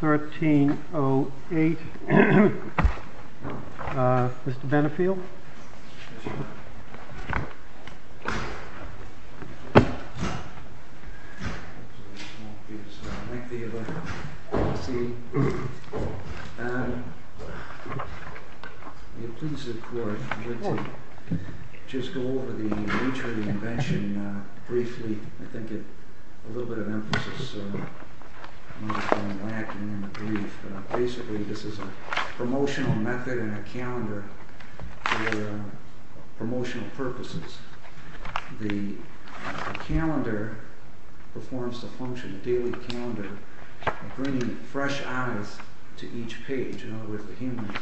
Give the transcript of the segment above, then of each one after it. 1308. Mr. Benefiel. Basically, this is a promotional method and a calendar for promotional purposes. The calendar performs the function, a daily calendar, bringing fresh eyes to each page. In other words, the human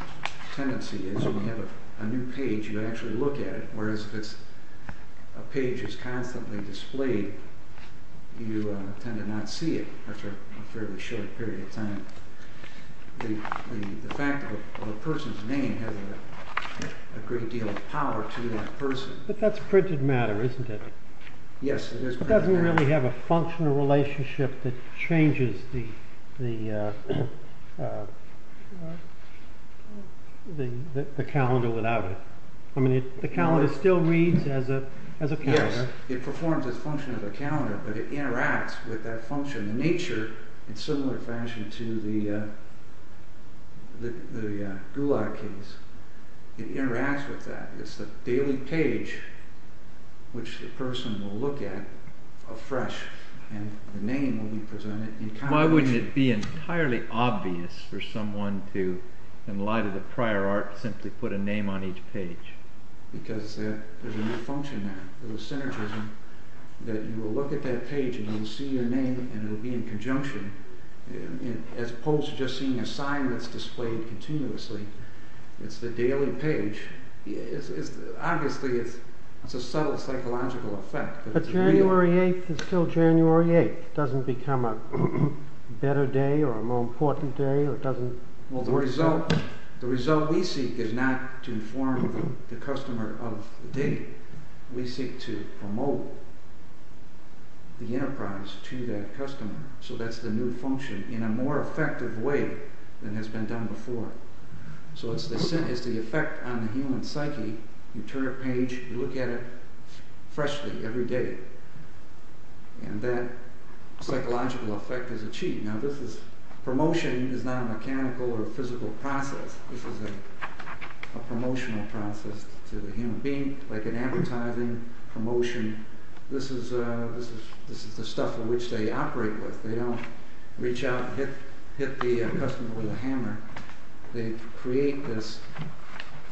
tendency is when you have a new page, you actually look at it, whereas if it's a page that's constantly displayed, you tend to not see it. That's a fairly short period of time. The fact of a person's name has a great deal of power to that person. But that's printed matter, isn't it? Yes, it is printed matter. It doesn't really have a functional relationship that changes the calendar without it. I mean, the calendar still reads as a calendar. Yes, it performs its function as a calendar, but it interacts with that function. The nature, in similar fashion to the gulag case, it interacts with that. It's the daily page which the person will look at afresh, and the name will be presented entirely. Why wouldn't it be entirely obvious for someone to, in light of the prior art, simply put a name on each page? Because there's a new function there. There's a synergism that you will look at that page and you will see your name and it will be in conjunction, as opposed to just seeing a sign that's displayed continuously. It's the daily page. Obviously, it's a subtle psychological effect. But January 8th is still January 8th. It doesn't become a better day or a more important day? Well, the result we seek is not to inform the customer of the date. We seek to promote the enterprise to that customer. So that's the new function, in a more effective way than has been done before. So it's the effect on the human psyche. You turn a page, you look at it freshly every day, and that psychological effect is achieved. Now this is, promotion is not a mechanical or physical process. This is a promotional process to the human being, like in advertising, promotion. This is the stuff which they operate with. They don't reach out and hit the customer with a hammer. They create this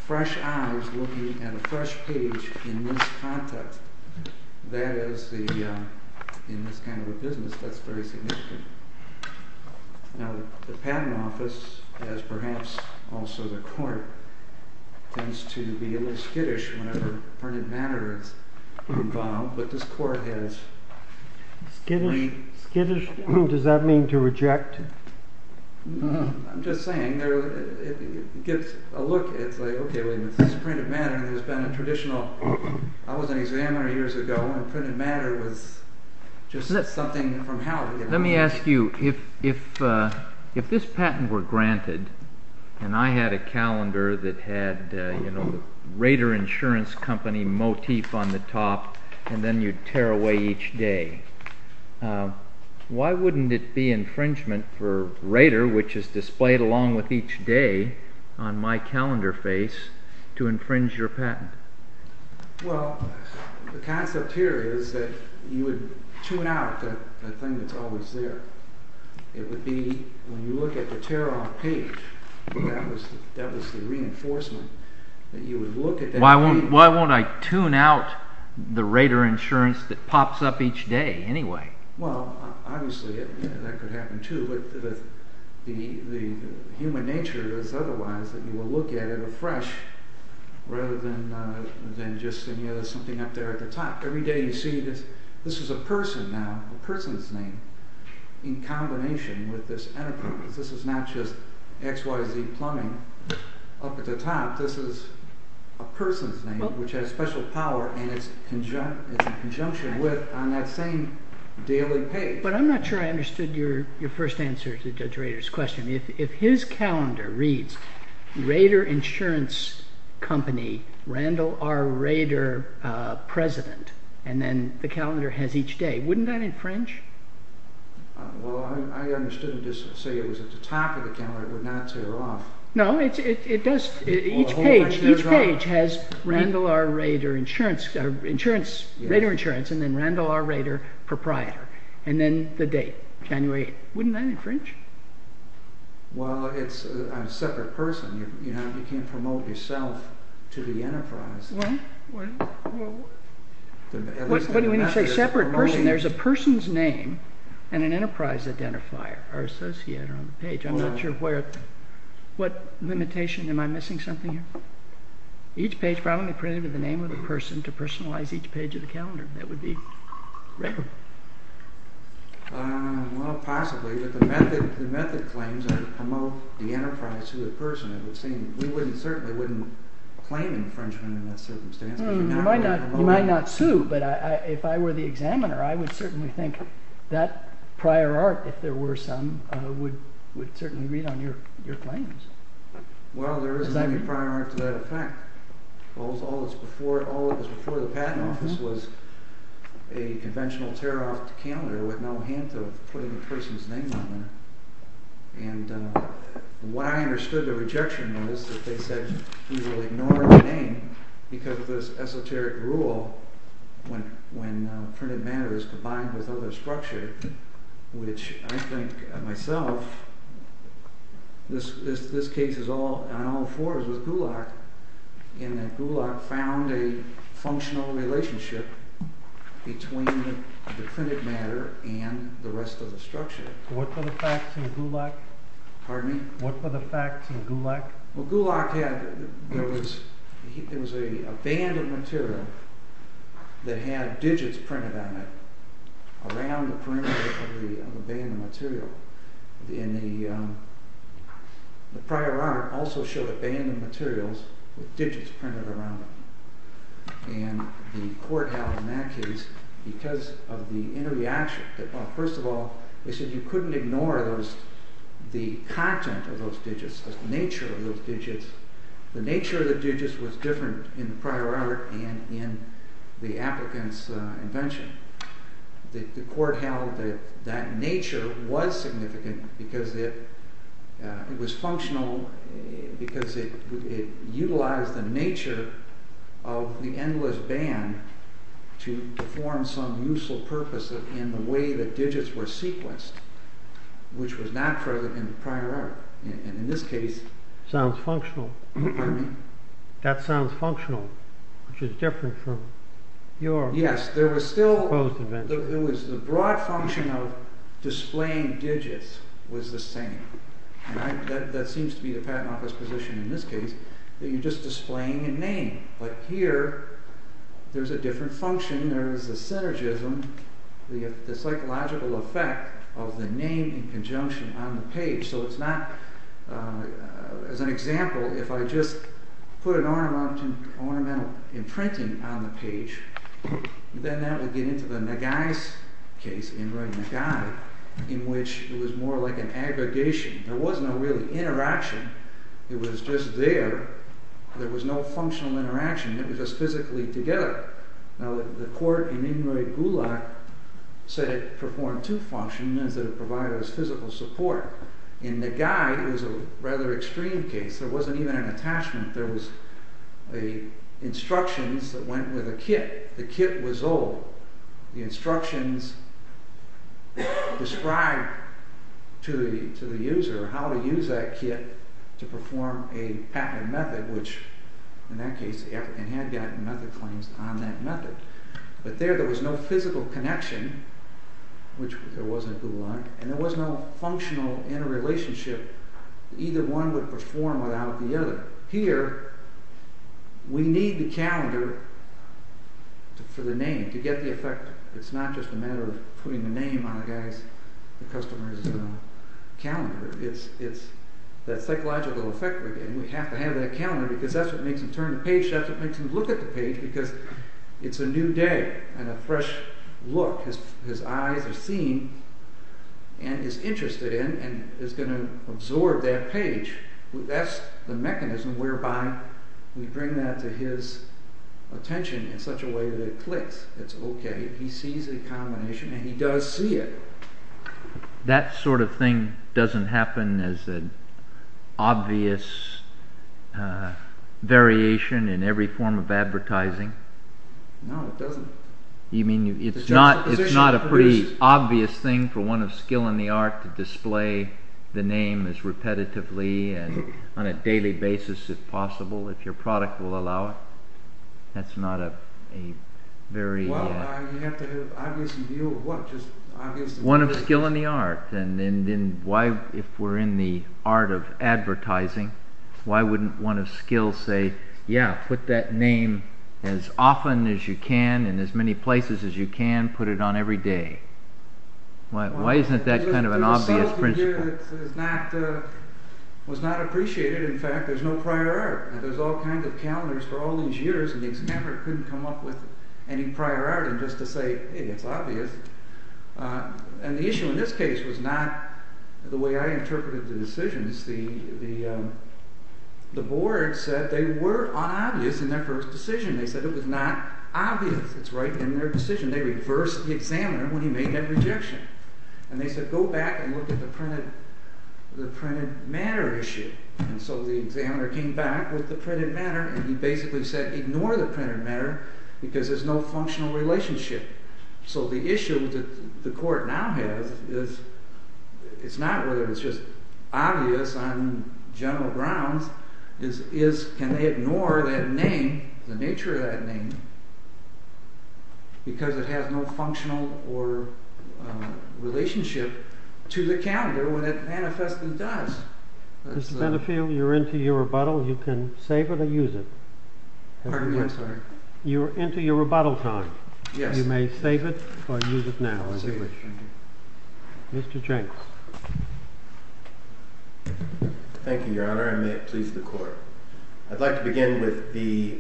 fresh eyes looking at a fresh page in this context. That is the, in this kind of a business, that's very significant. Now the patent office, as perhaps also the court, tends to be a little skittish whenever printed matter is involved, but this court has... Skittish? Does that mean to reject? No, I'm just saying, it gets a look. It's like, ok, this printed matter has been a traditional... I was an examiner years ago, and printed matter was just something from hell. Let me ask you, if this patent were granted, and I had a calendar that had the Raider Insurance Company motif on the top, and then you'd tear away each day, why wouldn't it be infringement for Raider, which is displayed along with each day on my calendar face, to infringe your patent? Well, the concept here is that you would tune out the thing that's always there. It would be, when you look at the tear off page, that was the reinforcement. Why won't I tune out the Raider Insurance that pops up each day anyway? Well, obviously, that could happen too, but the human nature is otherwise, that you will look at it afresh, rather than just something up there at the top. Every day you see this, this is a person now, a person's name, in combination with this enterprise. This is not just XYZ plumbing up at the top, this is a person's name, which has special power, and it's in conjunction with, on that same daily page. But I'm not sure I understood your first answer to Judge Raider's question. If his calendar reads, Raider Insurance Company, Randall R. Raider President, and then the calendar has each day, wouldn't that infringe? Well, I understood him to say it was at the top of the calendar, it would not tear off. No, it does, each page has Randall R. Raider Insurance, and then Randall R. Raider Proprietor, and then the date, January 8th. Wouldn't that infringe? Well, it's a separate person, you can't promote yourself to the enterprise. What do you mean you say separate person? There's a person's name, and an enterprise identifier, or associate on the page. I'm not sure where, what limitation, am I missing something here? Each page probably printed with the name of the person, to personalize each page of the calendar. That would be Raider. Well, possibly, but the method claims are to promote the enterprise to the person. We certainly wouldn't claim infringement in that circumstance. You might not sue, but if I were the examiner, I would certainly think that prior art, if there were some, would certainly read on your claims. Well, there is maybe prior art to that effect. All of this before the patent office was a conventional tear-off calendar with no hint of putting a person's name on there. And what I understood the rejection was that they said, we will ignore the name because of this esoteric rule when printed matter is combined with other structure, which I think myself, this case is on all fours with Gulak, in that Gulak found a functional relationship between the printed matter and the rest of the structure. What were the facts in Gulak? Pardon me? What were the facts in Gulak? Well, Gulak had, there was a band of material that had digits printed on it, around the perimeter of the band of material. And the prior art also showed a band of materials with digits printed around them. And the court held in that case, because of the interreaction, first of all, they said you couldn't ignore the content of those digits, the nature of those digits. The nature of the digits was different in the prior art and in the applicant's invention. The court held that that nature was significant because it was functional, because it utilized the nature of the endless band to perform some useful purpose in the way that digits were sequenced, which was not present in the prior art. And in this case... Sounds functional. Pardon me? That sounds functional, which is different from your... Yes, there was still... ...opposed invention. There was the broad function of displaying digits was the same. And that seems to be the patent office position in this case, that you're just displaying a name. But here, there's a different function, there's a synergism, the psychological effect of the name in conjunction on the page. So it's not... As an example, if I just put an ornamental imprinting on the page, then that would get into the Nagai's case, Inroy Nagai, in which it was more like an aggregation. There was no real interaction, it was just there. There was no functional interaction, it was just physically together. Now, the court in Inroy Gulak said it performed two functions, that it provided us physical support. In Nagai, it was a rather extreme case. There wasn't even an attachment, there was instructions that went with a kit. The kit was old. The instructions described to the user how to use that kit to perform a patent method, which, in that case, the African had gotten method claims on that method. But there, there was no physical connection, which there wasn't at Gulak, and there was no functional interrelationship that either one would perform without the other. Here, we need the calendar for the name, to get the effect. It's not just a matter of putting the name on a guy's, the customer's calendar. It's that psychological effect of the name. We have to have that calendar because that's what makes him turn the page, that's what makes him look at the page because it's a new day and a fresh look. His eyes are seeing and he's interested in and is going to absorb that page. That's the mechanism whereby we bring that to his attention in such a way that it clicks. It's okay. He sees a combination and he does see it. That sort of thing doesn't happen as an obvious variation in every form of advertising? No, it doesn't. It's not a pretty obvious thing for one of skill in the art to display the name as repetitively and on a daily basis as possible if your product will allow it? That's not a very... You have to have an obvious view of what? One of skill in the art. Why, if we're in the art of advertising, why wouldn't one of skill say put that name as often as you can in as many places as you can put it on every day? Why isn't that an obvious principle? There's a subtlety here that was not appreciated. In fact, there's no prior art. There's all kinds of calendars for all these years and the examiner couldn't come up with any prior art just to say it's obvious. The issue in this case was not the way I interpreted the decisions. The board said that they were obvious in their first decision. They said it was not obvious. It's right in their decision. They reversed the examiner when he made that rejection. They said go back and look at the printed matter issue. The examiner came back with the printed matter and he basically said ignore the printed matter because there's no functional relationship. The issue that the court now has is not whether it's just obvious on general grounds but can they ignore the nature of that name because it has no functional or relationship to the calendar when it manifestly does. Mr. Benefield, you're into your rebuttal. You can save it or use it. Pardon me, I'm sorry. You're into your rebuttal time. Yes. You may save it or use it now. I'll save it. Mr. Jenks. Thank you, Your Honor. May it please the court. I'd like to begin with the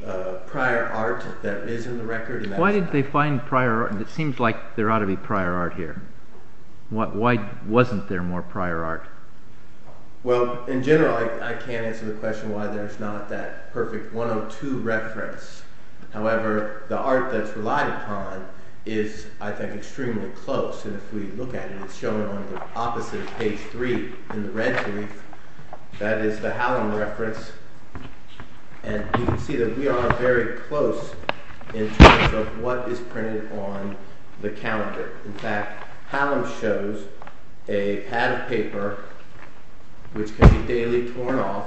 prior art that is in the record. Why did they find prior art? It seems like there ought to be prior art here. Why wasn't there more prior art? Well, in general I can't answer the question why there's not that perfect 102 reference. However, the art that's relied upon is, I think, extremely close and if we look at it it's shown on the opposite of page 3 in the red brief. That is the Hallam reference and you can see that we are very close in terms of what is printed on the calendar. In fact, Hallam shows a pad of paper which can be daily torn off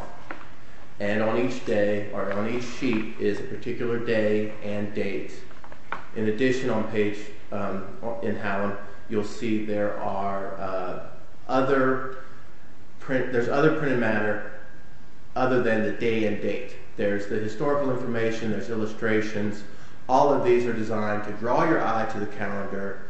and on each day or on each sheet is a particular day and date. In addition, on page in Hallam you'll see there are other printed matter other than the day and date. There's the historical information there's illustrations all of these are designed to draw your eye to the calendar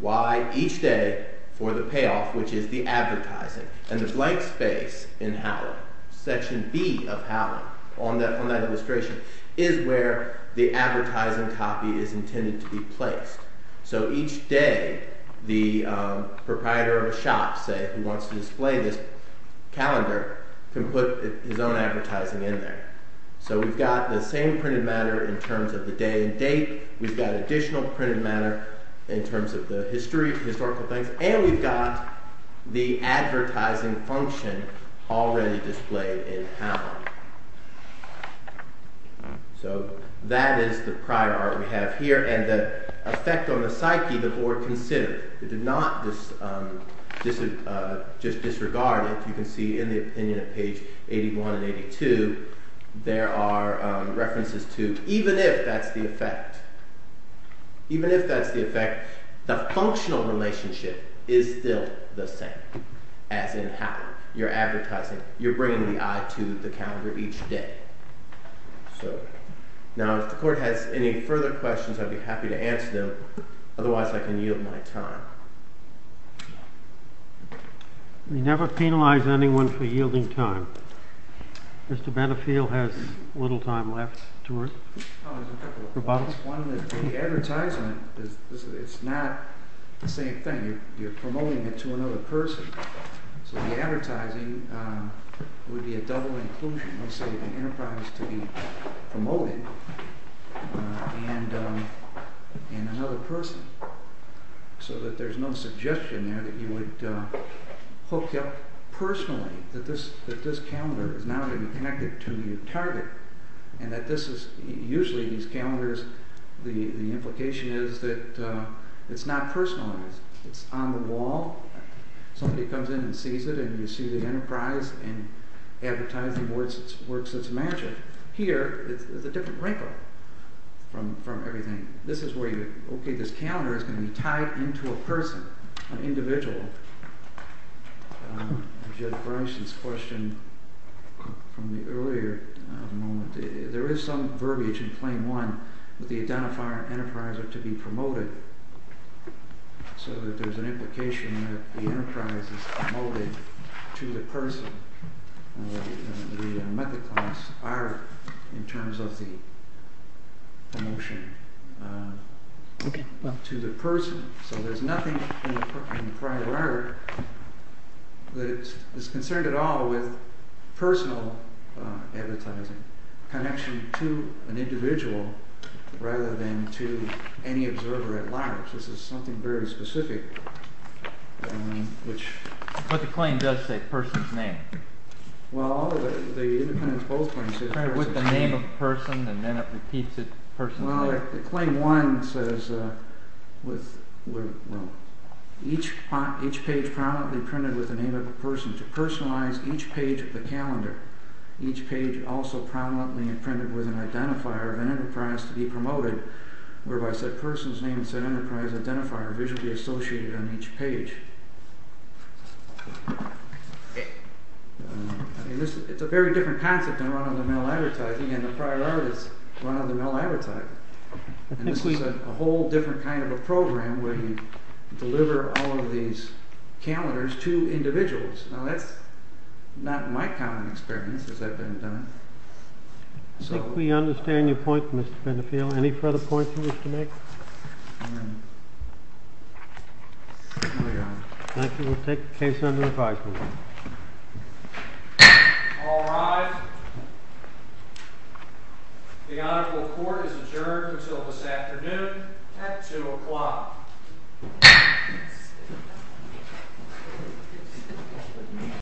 why each day for the payoff which is the advertising and the blank space in Hallam section B of Hallam on that illustration is where the advertising copy is intended to be placed. So each day the proprietor of a shop who wants to display this calendar can put his own advertising in there. So we've got the same printed matter in terms of the day and date we've got additional printed matter in terms of the history and we've got the advertising function already displayed in Hallam. So that is the prior art we have here and the effect on the psyche the board considered it did not just disregard you can see in the opinion of page 81 and 82 there are references to even if that's the effect even if that's the effect the functional relationship is still the same as in Hallam you're advertising you're bringing the eye to the calendar each day. Now if the court has any further questions I'd be happy to answer them otherwise I can yield my time. We never penalize anyone for yielding time Mr. Benefield has little time left to respond. The advertisement it's not the same thing you're promoting it to another person so the advertising would be a double inclusion let's say the enterprise to be promoted and and another person so that there's no suggestion there that you would hook up personally that this calendar is not connected to your target and that this is usually these calendars the implication is that it's not personalized it's on the wall somebody comes in and sees it and you see the enterprise and advertising works its magic here it's a different from everything this is where you okay this calendar is going to be tied into a person an individual Judge Bernstein's question from the earlier there is some verbiage in claim 1 that the identifier and enterprise are to be promoted so that there's an implication that the enterprise is promoted to the person the method clients are in terms of the promotion to the person so there's nothing in prior art that is concerned at all with personal advertising connection to an individual observer at large this is something very specific but the claim does say person's name well with the name of the person and then it repeats it claim 1 says with each page prominently printed with the name of the person to personalize each page of the calendar each page also prominently printed with an identifier of an enterprise to be promoted whereby said person's name and said enterprise identifier are visually associated on each page it's a very different concept than run-of-the-mill advertising and the prior art is run-of-the-mill advertising and this is a whole different kind of a program where you deliver all of these calendars to individuals now that's not my common experience as I've been done I think we understand your point Mr. Benefiel any further points you wish to make I think we'll take the case under advisory board all rise the honorable court is adjourned at 2 o'clock